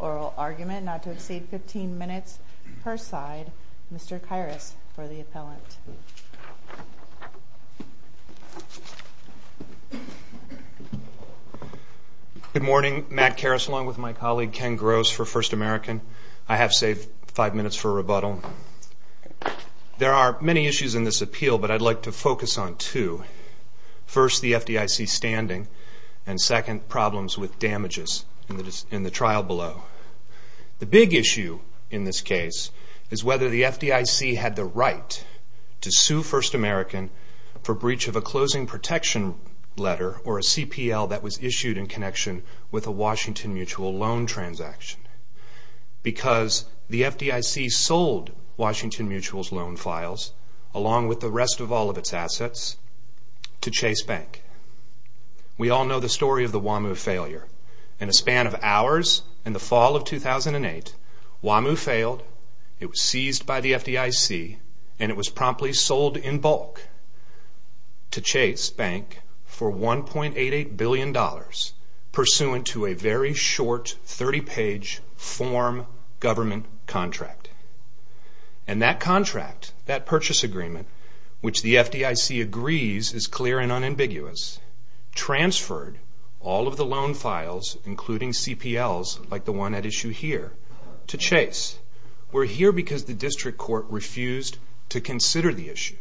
Oral argument not to exceed 15 minutes per side. Mr. Kairos for the appellant. Good morning. Matt Kairos along with my colleague Ken Gross for First American. I have saved five minutes for rebuttal. There are many issues in this appeal but I'd like to focus on two. First the FDIC standing and second problems with damages in the trial below. The big issue in this case is whether the FDIC had the right to sue First American for breach of a Closing Protection Letter or a CPL that was issued in connection with a Washington Mutual loan transaction because the FDIC sold Washington Mutual's loan files along with the rest of all of its assets to Chase Bank. We all know the story of the Wham-oo failure. In a span of hours in the fall of 2008, Wham-oo failed, it was seized by the FDIC, and it was promptly sold in bulk to Chase Bank for $1.88 billion pursuant to a very short 30-page form government contract. And that contract, that purchase agreement which the FDIC agrees is clear and unambiguous, transferred all of the loan files, including CPLs like the one at issue here, to Chase. We're here because the district court refused to consider the issue.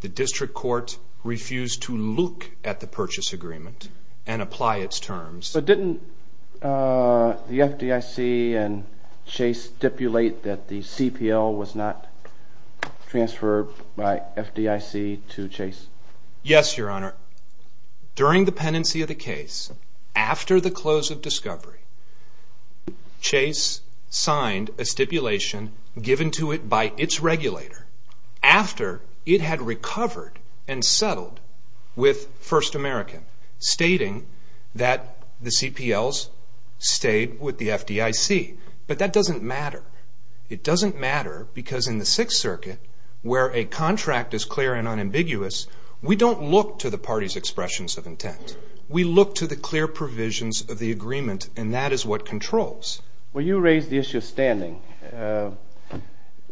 The district court refused to look at the purchase agreement and apply its terms. So didn't the FDIC and Chase stipulate that the CPL was not transferred by FDIC to Chase? Yes, Your Honor. During the pendency of the case, after the close of discovery, Chase signed a stipulation given to it by its regulator after it had recovered and settled with First American stating that the CPLs stayed with the FDIC. But that doesn't matter. It doesn't matter because in the Sixth Circuit, where a contract is clear and unambiguous, we don't look to the parties' expressions of intent. We look to the clear provisions of the agreement, and that is what controls. When you raise the issue of standing,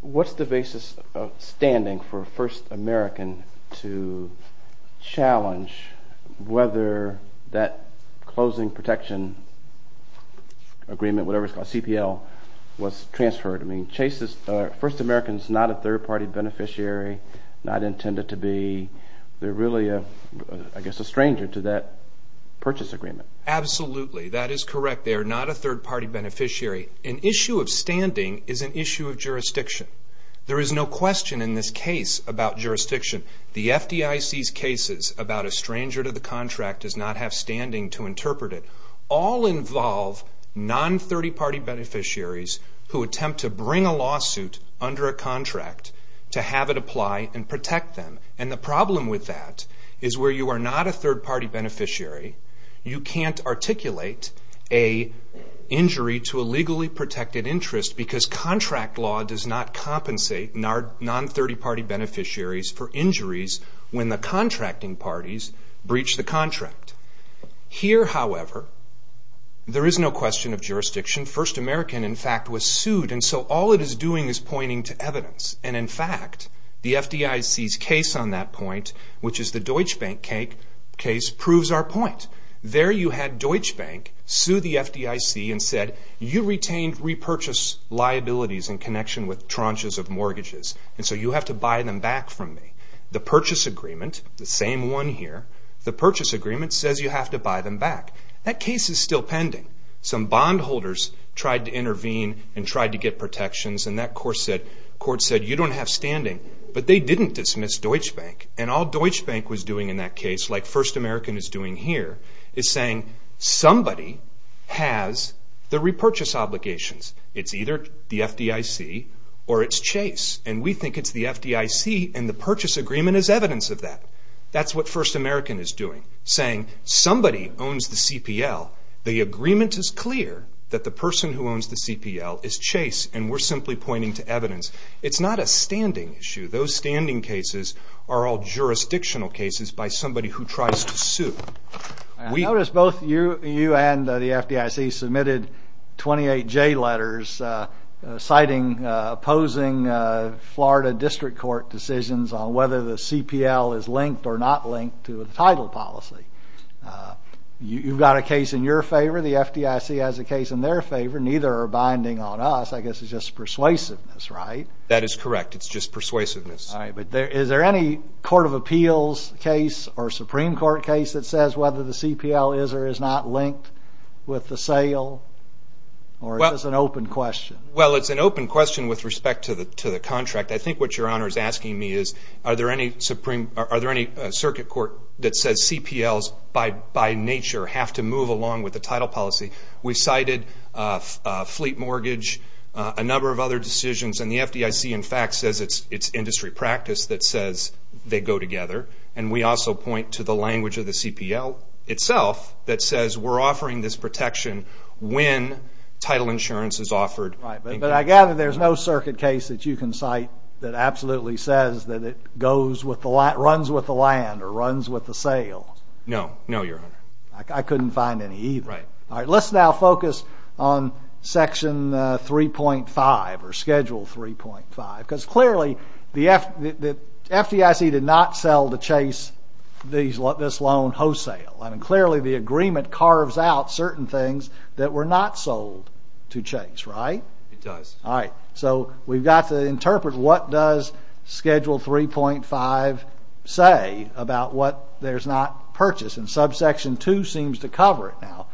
what's the basis of standing for First American to challenge whether that closing protection agreement, whatever it's called, CPL, was transferred? I mean, Chase's First American is not a third-party beneficiary, not intended to be. They're really, I guess, a stranger to that purchase agreement. Absolutely. That is correct. They are not a third-party beneficiary. An issue of standing is an issue of jurisdiction. There is no question in this case about jurisdiction. The FDIC's cases about a stranger to the contract does not have standing to interpret it all involve non-thirty-party beneficiaries who attempt to bring a lawsuit under a contract to have it apply and protect them. And the problem with that is where you are not a third-party beneficiary, you can't articulate an injury to a legally protected interest because contract law does not compensate non-thirty-party beneficiaries for injuries when the contracting parties breach the contract. Here, however, there is no question of jurisdiction. First American, in fact, was sued, and so all it is doing is pointing to evidence. And in fact, the FDIC's case on that point, which is the Deutsche Bank case, proves our point. There you had Deutsche Bank sue the FDIC and said, you retained repurchase liabilities in connection with tranches of mortgages, and so you have to buy them back from me. The purchase agreement, the same one here, the purchase agreement says you have to buy them back. That case is still pending. Some bondholders tried to intervene and tried to get protections, and that court said, you don't have standing. But they didn't dismiss Deutsche Bank, and all Deutsche Bank was doing in that case, like First American is doing here, is saying somebody has the repurchase obligations. It's either the FDIC or it's Chase, and we think it's the FDIC, and the purchase agreement is evidence of that. That's what First American is doing, saying somebody owns the CPL. The agreement is clear that the person who owns the CPL is Chase, and we're simply pointing to evidence. It's not a standing issue. Those are jurisdictional cases by somebody who tries to sue. I notice both you and the FDIC submitted 28 J letters citing, opposing Florida District Court decisions on whether the CPL is linked or not linked to the title policy. You've got a case in your favor. The FDIC has a case in their favor. Neither are binding on us. I guess it's just persuasiveness, right? That is correct. It's just persuasiveness. Is there any Court of Appeals case or Supreme Court case that says whether the CPL is or is not linked with the sale, or is this an open question? It's an open question with respect to the contract. I think what Your Honor is asking me is, are there any circuit court that says CPLs, by nature, have to move along with the title policy? We cited fleet mortgage, a number of other decisions, and the FDIC, in fact, says it's industry practice that says they go together. We also point to the language of the CPL itself that says we're offering this protection when title insurance is offered. I gather there's no circuit case that you can cite that absolutely says that it runs with the land or runs with the sale? No, Your Honor. I couldn't find any either. Let's now focus on Section 3.5 or Schedule 3.5. Clearly, the FDIC did not sell to chase this loan wholesale. Clearly, the agreement carves out certain things that were not sold to chase, right? It does. All right. So we've got to interpret what does Schedule 3.5 say about what there's not purchased. And Subsection 2 seems to cover it now.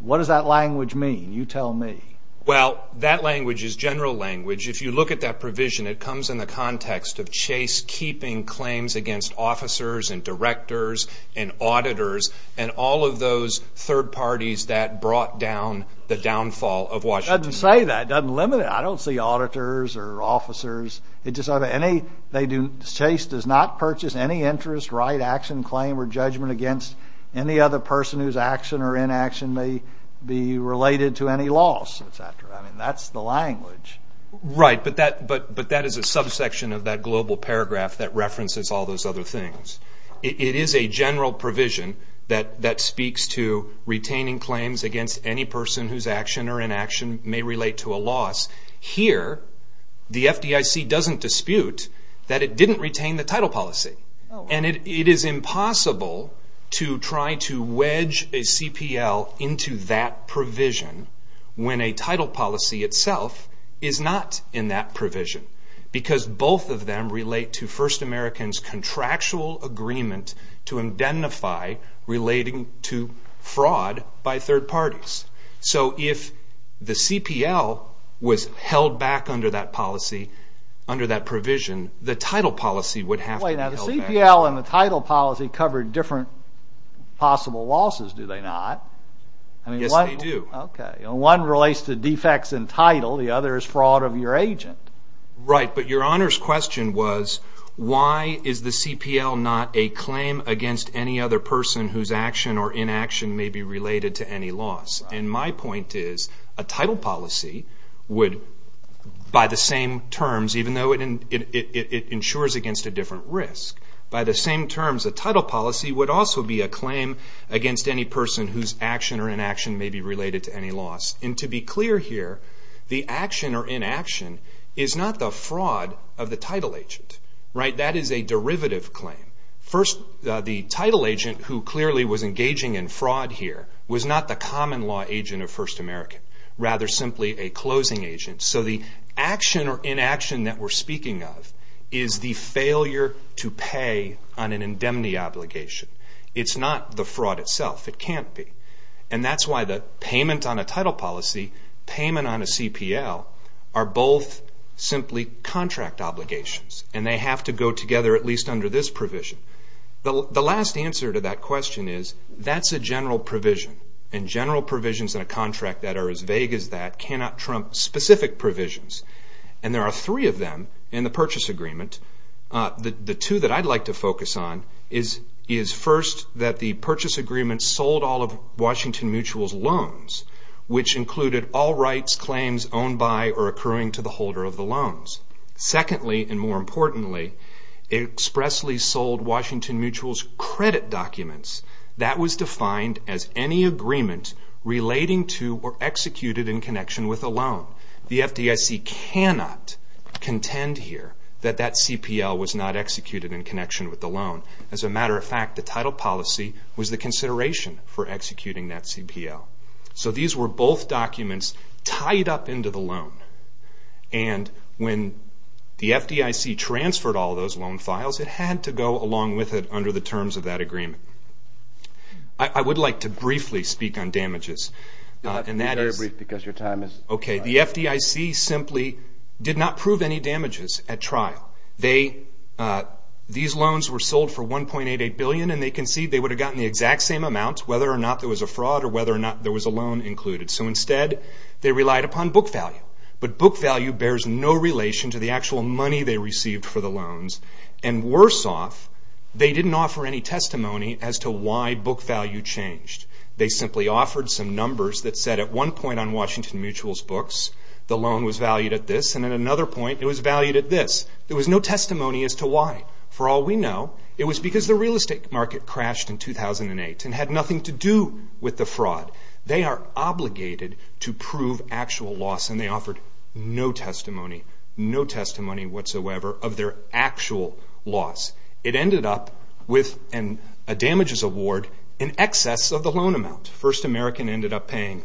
What does that language mean? You tell me. Well, that language is general language. If you look at that provision, it comes in the context of chase keeping claims against officers and directors and auditors and all of those third parties that brought down the downfall of Washington. It doesn't say that. It doesn't limit it. I don't see auditors or officers. It just says chase does not purchase any interest, right, action, claim, or judgment against any other person whose action or inaction may be related to any loss, et cetera. I mean, that's the language. Right. But that is a subsection of that global paragraph that references all those other things. It is a general provision that speaks to retaining claims against any person whose action or inaction may relate to a loss. Here, the FDIC doesn't dispute that it didn't retain the title policy. And it is impossible to try to wedge a CPL into that provision when a title policy itself is not in that provision because both of them relate to First American's contractual agreement to identify relating to fraud by third parties. So if the CPL was held back under that policy, under that provision, the title policy would have to be held back. Now, the CPL and the title policy cover different possible losses, do they not? Yes, they do. One relates to defects in title. The other is fraud of your agent. Right. But your Honor's question was, why is the CPL not a claim against any other person whose action or inaction may be related to any loss? And my point is, a title policy would, by the same terms, even though it ensures against a different risk, by the same terms a title policy would also be a claim against any person whose action or inaction may be related to any loss. And to be clear here, the action or inaction is not the fraud of the title agent. Right. That is a derivative claim. First, the title agent who clearly was engaging in fraud here was not the common law agent of First American, rather simply a closing agent. So the action or inaction that we're speaking of is the failure to pay on an indemnity obligation. It's not the fraud itself. It can't be. And that's why the payment on a title policy, payment on a CPL, are both simply contract obligations, and they have to go together at least under this provision. The last answer to that question is, that's a general provision, and general provisions in a contract that are as vague as that cannot trump specific provisions. And there are three of them in the purchase agreement. The two that I'd like to focus on is, first, that the purchase agreement sold all of Washington Mutual's loans, which included all rights, claims owned by or accruing to the holder of the loans. Secondly, and more importantly, it expressly sold Washington Mutual's credit documents. That was defined as any agreement relating to or executed in connection with a loan. The FDIC cannot contend here that that CPL was not executed in connection with the loan. As a matter of fact, the title policy was the consideration for executing that CPL. So these were both documents tied up into the loan. And when the FDIC transferred all of those loan files, it had to go along with it under the terms of that agreement. I would like to briefly speak on damages, and that is... Be very brief, because your time is running out. Okay. The FDIC simply did not prove any damages at trial. These loans were sold for $1.88 billion, and they concede they would have gotten the exact same amount, whether or not there was a fraud or whether or not there was a loan included. So instead, they relied upon book value. But book value bears no relation to the actual money they received for the loans. And worse off, they didn't offer any testimony as to why book value changed. They simply offered some numbers that said at one point on Washington Mutual's books, the loan was valued at this, and at another point, it was valued at this. There was no testimony as to why. For all we know, it was because the real estate market crashed in their actual loss, and they offered no testimony, no testimony whatsoever of their actual loss. It ended up with a damages award in excess of the loan amount. First American ended up paying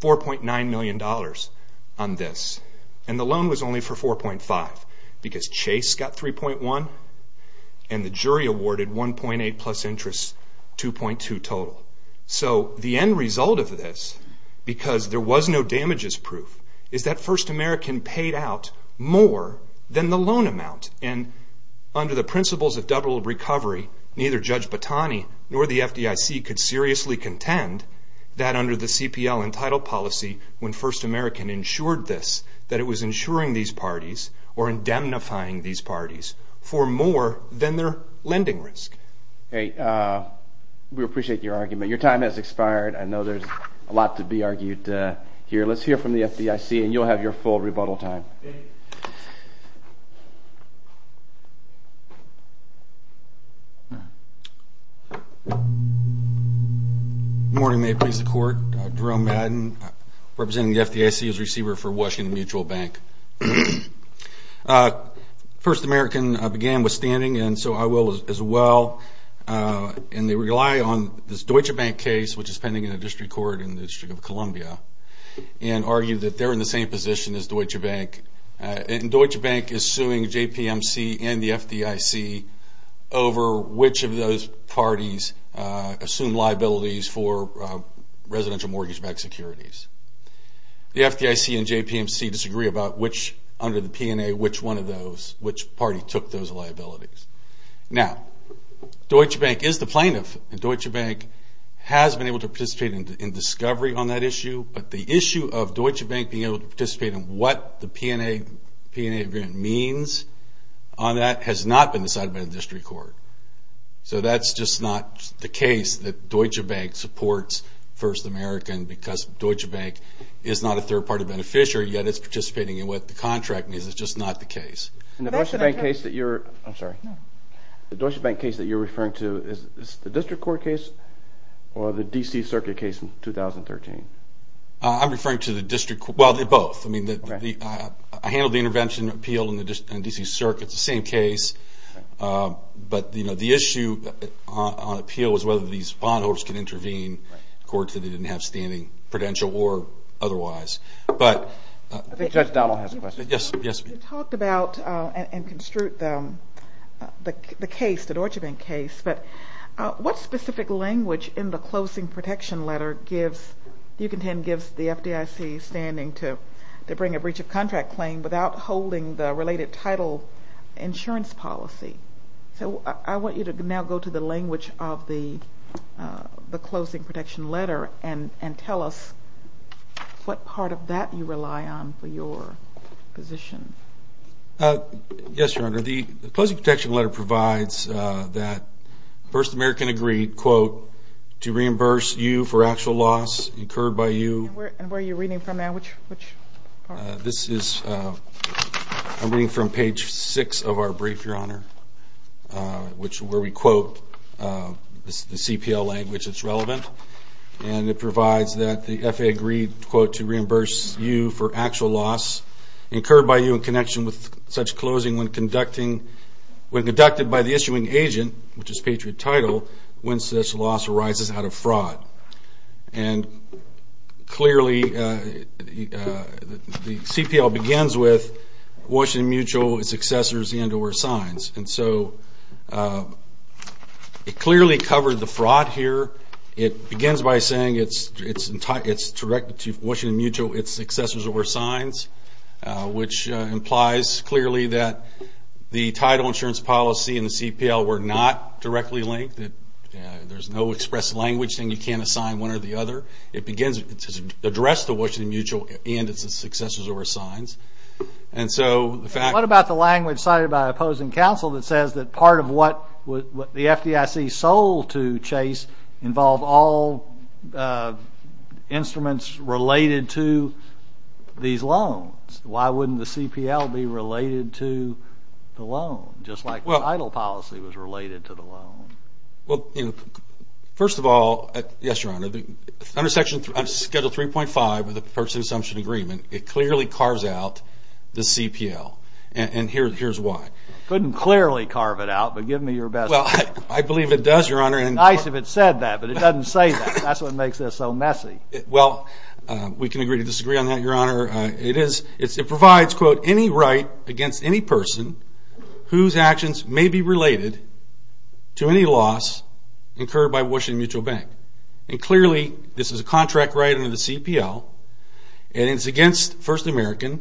$4.9 million on this, and the loan was only for 4.5, because Chase got 3.1, and the jury awarded 1.8 plus interest, 2.2 total. So the end result of this, because there was no damages proof, is that First American paid out more than the loan amount. And under the principles of double recovery, neither Judge Batani nor the FDIC could seriously contend that under the CPL and title policy, when First American insured this, that it was insuring these parties or indemnifying these parties for more than their lending risk. Hey, we appreciate your argument. Your time has expired. I know there's a lot to be argued here. Let's hear from the FDIC, and you'll have your full rebuttal time. Good morning. May it please the Court. Jerome Madden, representing the FDIC as receiver for Washington Mutual Bank. First American began withstanding, and so I will as well and they rely on this Deutsche Bank case, which is pending in a district court in the District of Columbia, and argue that they're in the same position as Deutsche Bank. And Deutsche Bank is suing JPMC and the FDIC over which of those parties assumed liabilities for residential mortgage-backed securities. The FDIC and JPMC disagree about which, under Deutsche Bank is the plaintiff, and Deutsche Bank has been able to participate in discovery on that issue, but the issue of Deutsche Bank being able to participate in what the P&A agreement means on that has not been decided by the district court. So that's just not the case that Deutsche Bank supports First American because Deutsche Bank is not a third party beneficiary, yet it's participating in what the contract means. It's just not the case. The Deutsche Bank case that you're referring to, is this the district court case or the D.C. Circuit case in 2013? I'm referring to the district court, well they're both. I handled the intervention appeal in the D.C. Circuit, it's the same case, but the issue on appeal is whether these bondholders can intervene in courts that they didn't have standing, prudential or otherwise. I think Judge Donnell has a question. You talked about and construed the case, the Deutsche Bank case, but what specific language in the closing protection letter gives, do you contend gives the FDIC standing to bring a breach of contract claim without holding the related title insurance policy? So I want you to now go to the language of the closing protection letter and tell us what part of that you rely on for your position. Yes, Your Honor, the closing protection letter provides that First American agreed, quote, to reimburse you for actual loss incurred by you. And where are you reading from now? Which part? This is, I'm reading from page six of our brief, Your Honor, where we quote the CPL language that's relevant, and it provides that the FAA agreed, quote, to reimburse you for actual loss incurred by you in connection with such closing when conducted by the issuing agent, which is Patriot title, when such loss arises out of fraud. And clearly the CPL begins with Washington Mutual, its successors, the underwear signs. And so it clearly covered the fraud here. It begins by saying it's directed to Washington Mutual, its successors, the underwear signs, which implies clearly that the title insurance policy and the CPL were not directly linked, that there's no express language saying you can't assign one or the other. It begins to address the Washington Mutual and its successors, the underwear signs. And so the fact What about the language cited by opposing counsel that says that part of what the FDIC sold to Chase involved all instruments related to these loans? Why wouldn't the CPL be related to the loan, just like the title policy was related to the loan? First of all, yes, Your Honor, under section schedule 3.5 of the Purchasing Assumption Agreement, it clearly carves out the CPL. And here's why. Couldn't clearly carve it out, but give me your best. Well, I believe it does, Your Honor. It's nice if it said that, but it doesn't say that. That's what makes this so messy. Well, we can agree to disagree on that, Your Honor. It provides, quote, any right against any person whose actions may be related to any loss incurred by Washington Mutual Bank. And clearly, this is a contract right under the CPL, and it's against First American,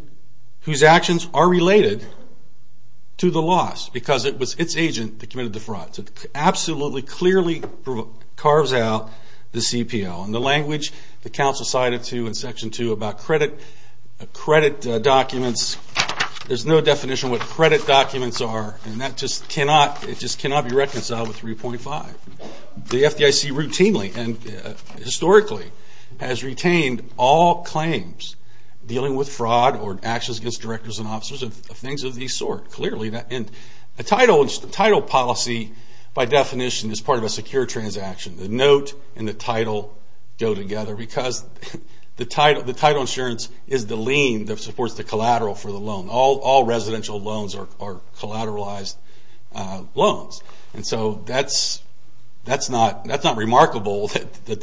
whose actions are related to the loss, because it was its agent that committed the fraud. So it absolutely, clearly carves out the CPL. And the language that counsel cited in section two about credit documents, there's no definition of what credit documents are, and that just cannot be reconciled with 3.5. The FDIC routinely and historically has retained all claims dealing with fraud or actions against directors and officers of things of this sort. Clearly, a title policy, by definition, is part of a secure transaction. The note and the title go together, because the title insurance is the lien that supports the collateral for the loan. All residential loans are collateralized loans. And so that's not remarkable that the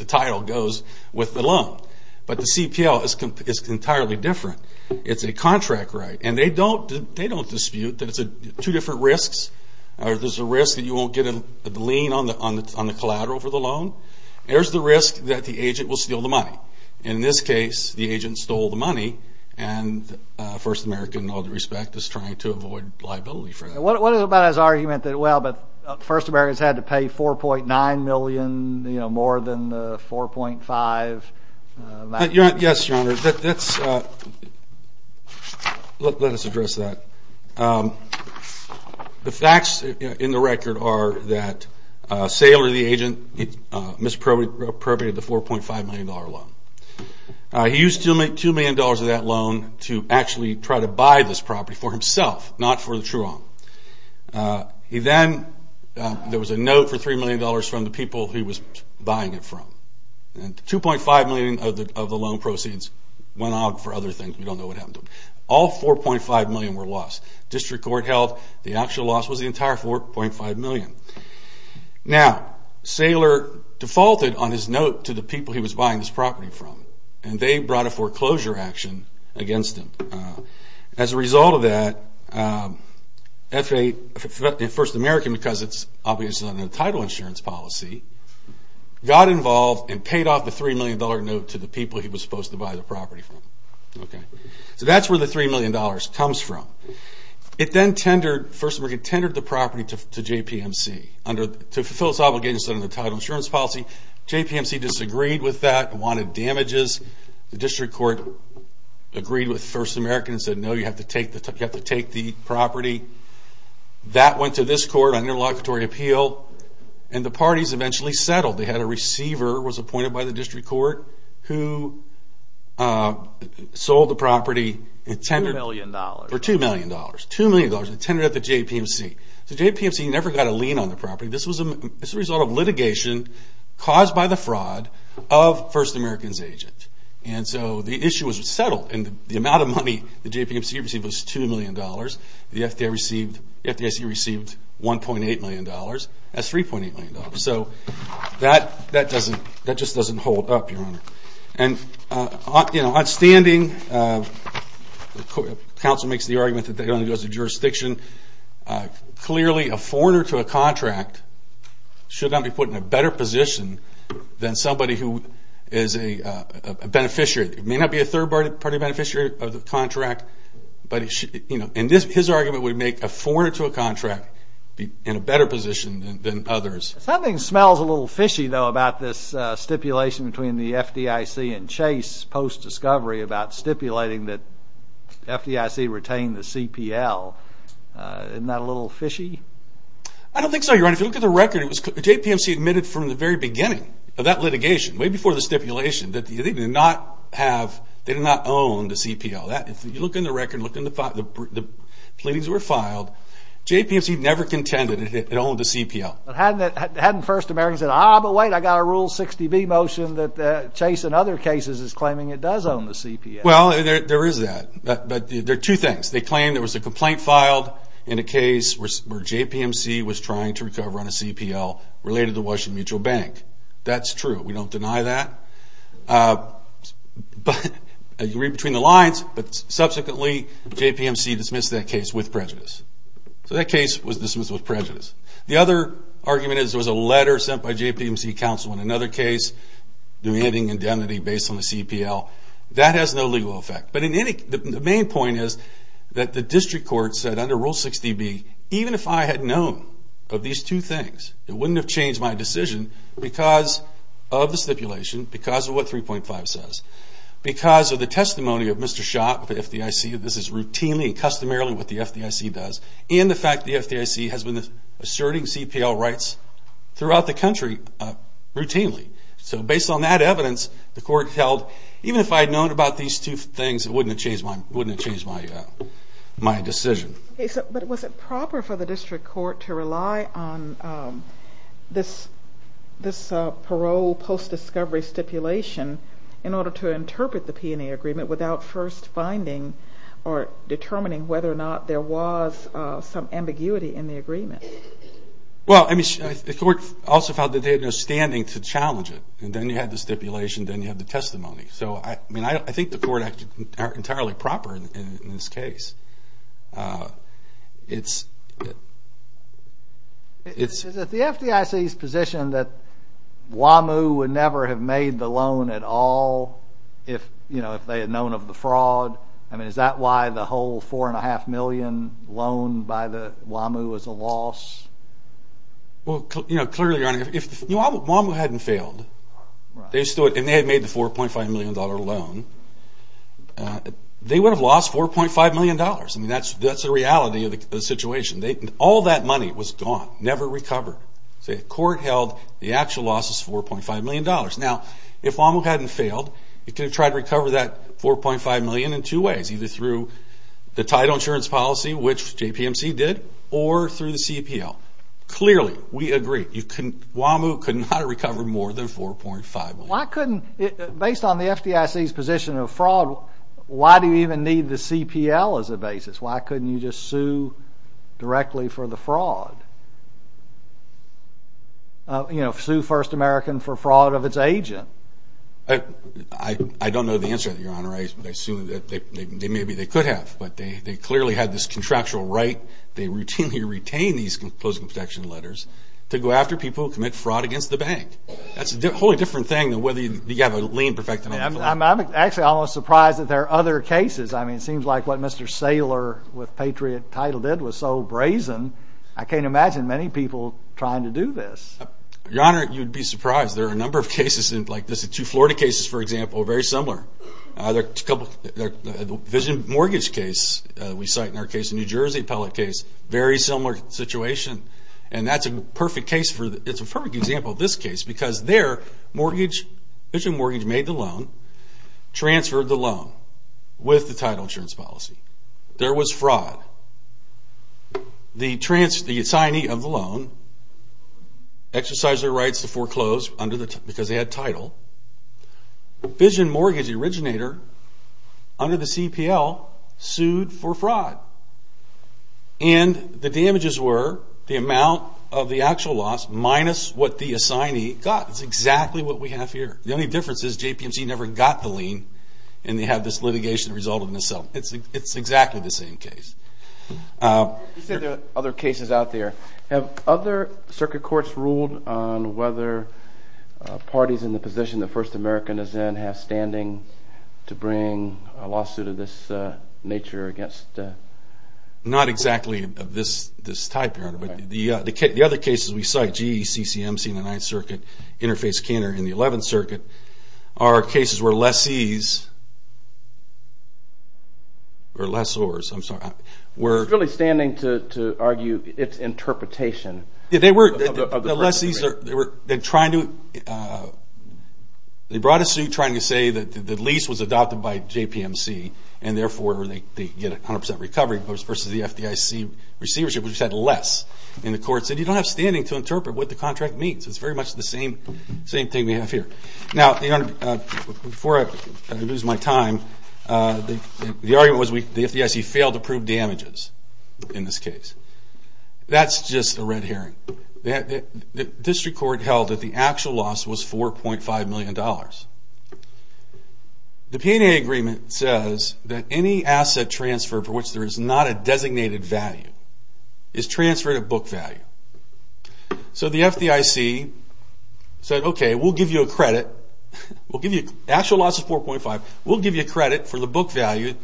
CPL is entirely different. It's a contract right. And they don't dispute that it's two different risks. There's a risk that you won't get a lien on the collateral for the loan. There's the risk that the agent will steal the money. In this case, the agent stole the money, and First American, in all due respect, is trying to avoid liability for that. What about his argument that, well, but First American's had to pay 4.9 million, you know, more than the 4.5 million? Yes, Your Honor. Let us address that. The facts in the record are that Saylor, the agent, misappropriated the $4.5 million loan. He used $2 million of that loan to actually try to buy this property for himself, not for the true owner. He then, there was a note for $3 million from the people he was buying it from. And $2.5 million of the loan proceeds went out for other things. We don't know what happened to them. All $4.5 million were lost. District Court held the actual loss was the entire $4.5 million. Now Saylor defaulted on his note to the people he was buying this property from. And they brought a foreclosure action against him. As a result of that, First American became involved and paid off the $3 million note to the people he was supposed to buy the property from. So that's where the $3 million comes from. It then tendered, First American tendered the property to JPMC to fulfill its obligations under the title insurance policy. JPMC disagreed with that and wanted damages. The District Court agreed with First American and said, no, you have to take the property. That went to this court on interlocutory appeal. And the parties eventually settled. They had a receiver who was appointed by the District Court who sold the property. $2 million. $2 million. It tendered at the JPMC. JPMC never got a lien on the property. This was a result of litigation caused by the fraud of First American. A lot of money the JPMC received was $2 million. The FDIC received $1.8 million. That's $3.8 million. So that just doesn't hold up, Your Honor. On standing, counsel makes the argument that it only goes to jurisdiction. Clearly a foreigner to a contract should not be put in a better position than somebody who is a beneficiary. It may not be a third party beneficiary of the contract. And his argument would make a foreigner to a contract be in a better position than others. Something smells a little fishy though about this stipulation between the FDIC and Chase post-discovery about stipulating that FDIC retain the CPL. Isn't that a little fishy? I don't think so, Your Honor. If you look at the record, JPMC admitted from the very beginning of that litigation, way before the stipulation, that they did not have, they did not own the CPL. If you look in the record, look in the file, the pleadings were filed. JPMC never contended it owned the CPL. Hadn't First American said, ah, but wait, I got a Rule 60B motion that Chase in other cases is claiming it does own the CPL. Well, there is that. But there are two things. They claim there was a complaint filed in a case where JPMC was trying to recover on a CPL related to Washington Mutual Bank. That's true. We don't deny that. You read between the lines, but subsequently JPMC dismissed that case with prejudice. So that case was dismissed with prejudice. The other argument is there was a letter sent by JPMC counsel in another case demanding indemnity based on the CPL. That has no legal effect. But the main point is that the district court said under Rule 60B, even if I had known of these two things, it wouldn't have changed my decision because of the stipulation, because of what 3.5 says, because of the testimony of Mr. Schott of the FDIC, this is routinely and customarily what the FDIC does, and the fact the FDIC has been asserting CPL rights throughout the country routinely. So based on that evidence, the court held, even if I had known about these two things, it wouldn't have changed my decision. But was it proper for the district court to rely on the CPL this parole post-discovery stipulation in order to interpret the P&A agreement without first finding or determining whether or not there was some ambiguity in the agreement? Well I mean, the court also found that they had no standing to challenge it. And then you had the stipulation, then you had the testimony. So I mean, I think the court acted entirely proper in this case. It's... Is it the FDIC's position that WAMU would never have made the loan at all if they had known of the fraud? I mean, is that why the whole $4.5 million loan by WAMU was a loss? Well clearly, Your Honor, if WAMU hadn't failed, and they had made the $4.5 million loan, they would have lost $4.5 million. I mean, that's the reality of the situation. All that money was gone, never recovered. The court held the actual loss was $4.5 million. Now, if WAMU hadn't failed, it could have tried to recover that $4.5 million in two ways. Either through the title insurance policy, which JPMC did, or through the CPL. Clearly, we agree, WAMU could not have recovered more than $4.5 million. Why couldn't... Based on the FDIC's position of fraud, why do you even need the CPL as a basis? Why couldn't you just sue directly for the fraud? You know, sue First American for fraud of its agent. I don't know the answer to that, Your Honor. I assume that maybe they could have, but they clearly had this contractual right. They routinely retain these closing protection letters to go after people who commit fraud against the bank. That's a wholly different thing than whether you have a lien-perfecting obligation. I'm actually almost surprised that there are other cases. I mean, it seems like what Mr. Saylor with Patriot Title did was so brazen. I can't imagine many people trying to do this. Your Honor, you'd be surprised. There are a number of cases like this. The two Florida cases, for example, are very similar. The vision mortgage case we cite in our case, the New Jersey appellate case, very similar situation. And that's a perfect case for... It's a perfect example of this case because there, vision mortgage made the loan, transferred the loan with the title insurance policy. There was fraud. The trans...the assignee of the loan exercised their rights to foreclose because they had title. Vision mortgage originator under the CPL sued for fraud. And the damages were the amount of the actual loss minus the assignee got. It's exactly what we have here. The only difference is JPMC never got the lien and they have this litigation result in itself. It's exactly the same case. You said there are other cases out there. Have other circuit courts ruled on whether parties in the position that First American is in have standing to bring a lawsuit of this nature against... Not exactly of this type, but the other cases we cite, GE, CCMC in the 9th Circuit, Interface Cantor in the 11th Circuit, are cases where lessees...or lessors, I'm sorry. It's really standing to argue its interpretation of the First American. The lessees, they were trying to...they brought a suit trying to say that the lease was adopted by JPMC and therefore they get 100% recovery versus the FDIC receivership, which had less. And the court said you don't have standing to interpret what the contract means. It's very much the same thing we have here. Now before I lose my time, the argument was the FDIC failed to prove damages in this case. That's just a red herring. The district court held that the actual loss was $4.5 million. The P&A agreement says that any asset transfer for which there is not a designated value is transferred at book value. So the FDIC said, okay, we'll give you a credit. The actual loss is $4.5. We'll give you a credit for the book value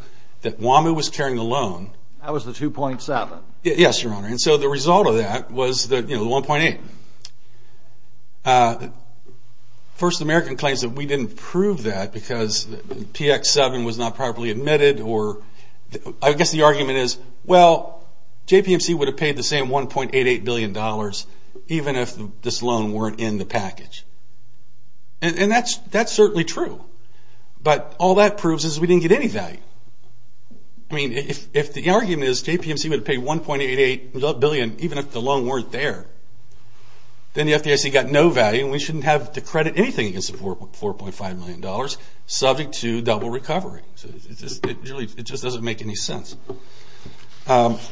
that WAMU was carrying the loan. That was the $2.7. Yes, Your Honor. And so the result of that was the $1.8. First, the American claims that we didn't prove that because PX7 was not properly admitted. I guess the argument is, well, JPMC would have paid the same $1.88 billion even if this loan weren't in the package. And that's certainly true. But all that proves is we didn't get any value. I mean, if the argument is JPMC would have paid $1.88 billion even if the loan weren't there, then the FDIC got no value and we shouldn't have to credit anything against the $4.5 million subject to double recovery. It just doesn't make any sense. My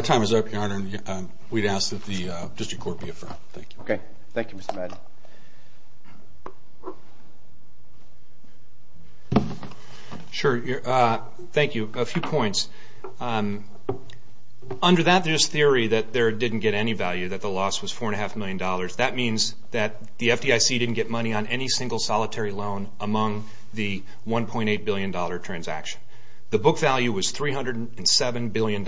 time is up, Your Honor, and we'd ask that the district court be affirmed. Okay. Thank you, Mr. Madden. Sure. Thank you. A few points. Under that there's theory that they didn't get any value, that the loss was $4.5 million. That means that the FDIC didn't get money on any single solitary loan among the $1.8 billion transaction. The book value was $307 billion.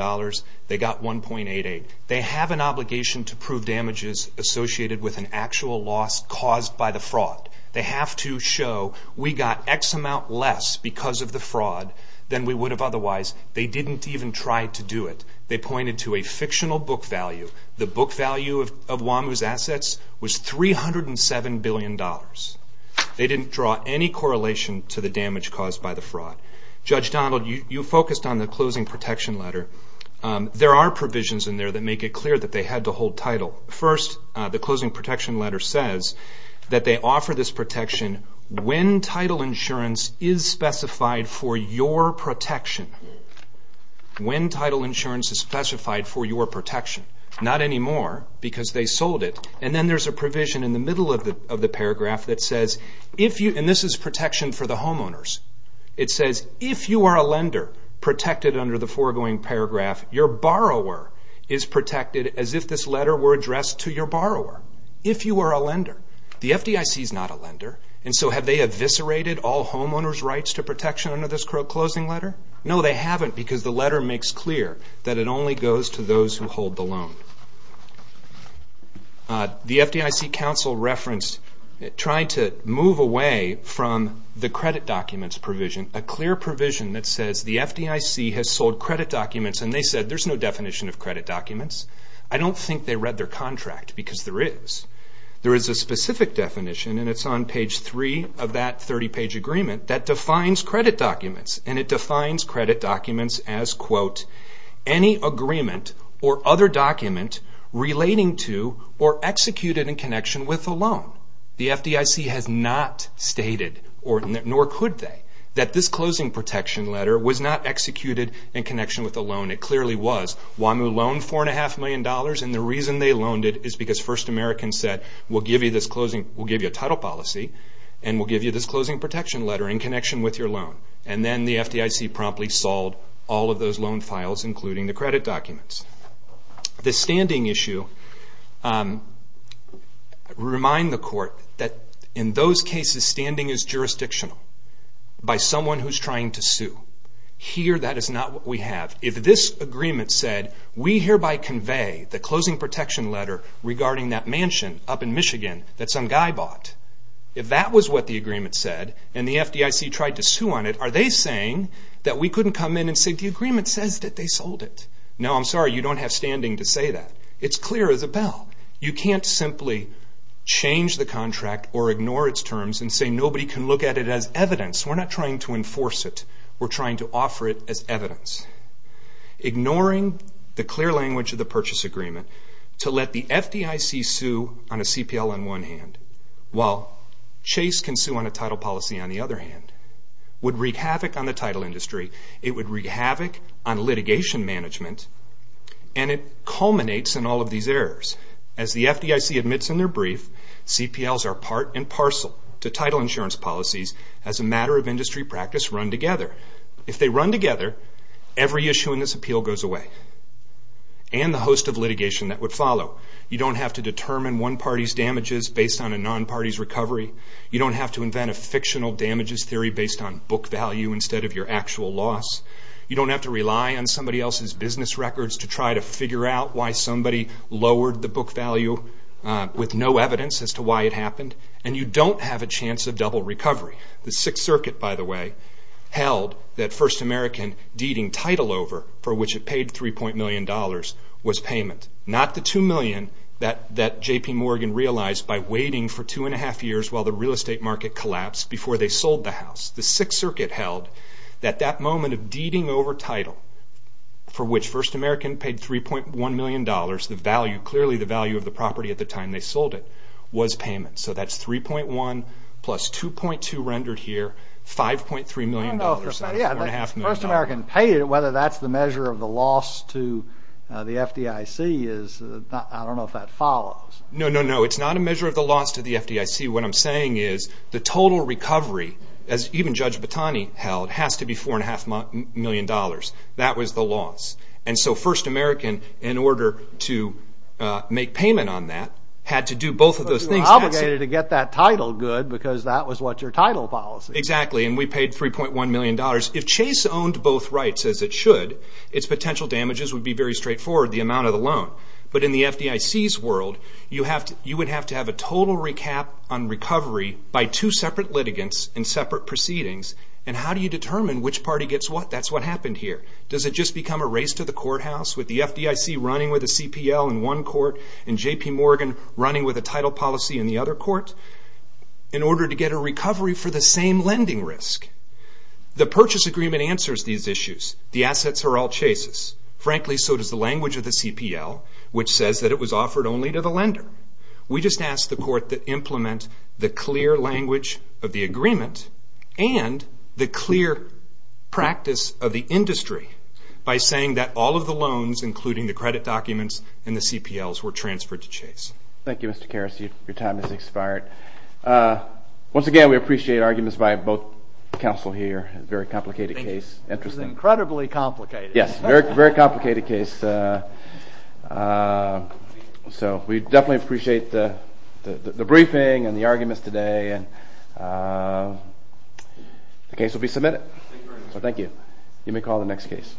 They got $1.88. They have an obligation to prove damages associated with an actual loss caused by the fraud. They have to show we got X amount less because of the fraud than we would have otherwise. They didn't even try to do it. They pointed to a fictional book value. The book value of Wamuu's assets was $307 billion. They didn't draw any correlation to the damage caused by the fraud. Judge Donald, you focused on the closing protection letter. There are provisions in there that make it clear that they had to hold title. First, the closing protection letter says that they offer this protection when title insurance is specified for your protection. When title insurance is specified for your protection. Not anymore because they sold it. And then there's a provision in the middle of the paragraph that says, and this is protection for the homeowners. It says, if you are a lender protected under the foregoing paragraph, your borrower is protected as if this letter were addressed to your borrower. If you are a lender. The FDIC is not a lender and so have they eviscerated all homeowner's rights to protection under this closing letter? No, they haven't because the letter makes clear that it only goes to those who hold the loan. The FDIC counsel referenced trying to move away from the credit documents provision. A clear provision that says the FDIC has sold credit documents and they said there's no definition of credit documents. I don't think they read their contract because there is. There is a specific definition and it's on page 3 of that 30 page agreement that defines credit documents. And it defines credit documents as, quote, any agreement or other document relating to or executed in connection with a loan. The FDIC has not stated, nor could they, that this closing protection letter was not executed in connection with a loan. It clearly was. WAMU loaned $4.5 million and the reason they loaned it is because First Americans said we'll give you a title policy and we'll give you this closing protection letter in connection with your loan. And then the FDIC promptly sold all of those loan files including the credit documents. The standing issue, remind the court that in those cases standing is jurisdictional by someone who's trying to sue. Here that is not what we have. If this agreement said we hereby convey the closing protection letter regarding that mansion up in Michigan that some guy bought, if that was what the agreement said and the FDIC tried to sue on it, are they saying that we couldn't come in and say the agreement says that they sold it? No, I'm sorry, you don't have standing to say that. It's clear as a bell. You can't simply change the contract or ignore its terms and say nobody can look at it as evidence. We're not trying to enforce it. We're trying to offer it as evidence. Ignoring the clear language of the purchase agreement to let the FDIC sue on a CPL on one hand while Chase can sue on a title policy on the other hand would wreak havoc on the title industry. It would wreak havoc on litigation management and it culminates in all of these errors. As the FDIC admits in their brief, CPLs are part and parcel to title insurance policies as a matter of industry practice run together. If they run together, every issue in this appeal goes away and the host of litigation that would follow. You don't have to determine one party's damages based on a non-party's recovery. You don't have to invent a fictional damages theory based on book value instead of your actual loss. You don't have to rely on somebody else's business records to try to figure out why somebody lowered the book value with no evidence as to why it happened. And you don't have a chance of double recovery. The Sixth Circuit, by the way, held that First American deeding title over for which it paid $3.1 million was payment. Not the $2 million that J.P. Morgan realized by waiting for two and a half years while the real estate market collapsed before they sold the house. The Sixth Circuit held that that moment of deeding over title for which First American paid $3.1 million, clearly the value of the property at the time they sold it, was payment. So that's 3.1 plus 2.2 rendered here, $5.3 million out of $4.5 million. If First American paid it, whether that's the measure of the loss to the FDIC, I don't know if that follows. No, no, no. It's not a measure of the loss to the FDIC. What I'm saying is the total recovery, as even Judge Batani held, has to be $4.5 million. That was the loss. And so First American, in order to make payment on that, had to do both of those things. But you were obligated to get that title good because that was what your title policy was. Exactly. And we paid $3.1 million. If Chase owned both rights, as it should, its potential damages would be very straightforward, the amount of the loan. But in the FDIC's world, you would have to have a total recap on recovery by two separate litigants and separate proceedings. And how do you determine which party gets what? That's what happened here. Does it just become a race to the courthouse with the FDIC running with a CPL in one court and J.P. Morgan running with a title policy in the other court? In order to get a recovery for the same lending risk. The purchase agreement answers these issues. The assets are all Chase's. Frankly, so does the language of the CPL, which says that it was offered only to the lender. We just asked the court to implement the clear language of the agreement and the clear practice of the industry by saying that all of the loans, including the credit documents and the CPLs, were transferred to Chase. Thank you, Mr. Karas. Your time has expired. Once again, we appreciate arguments by both counsel here. It's a very complicated case. Thank you. This is incredibly complicated. Yes, very complicated case. So we definitely appreciate the briefing and the arguments today. The case will be submitted. Thank you very much. Thank you. You may call the next case.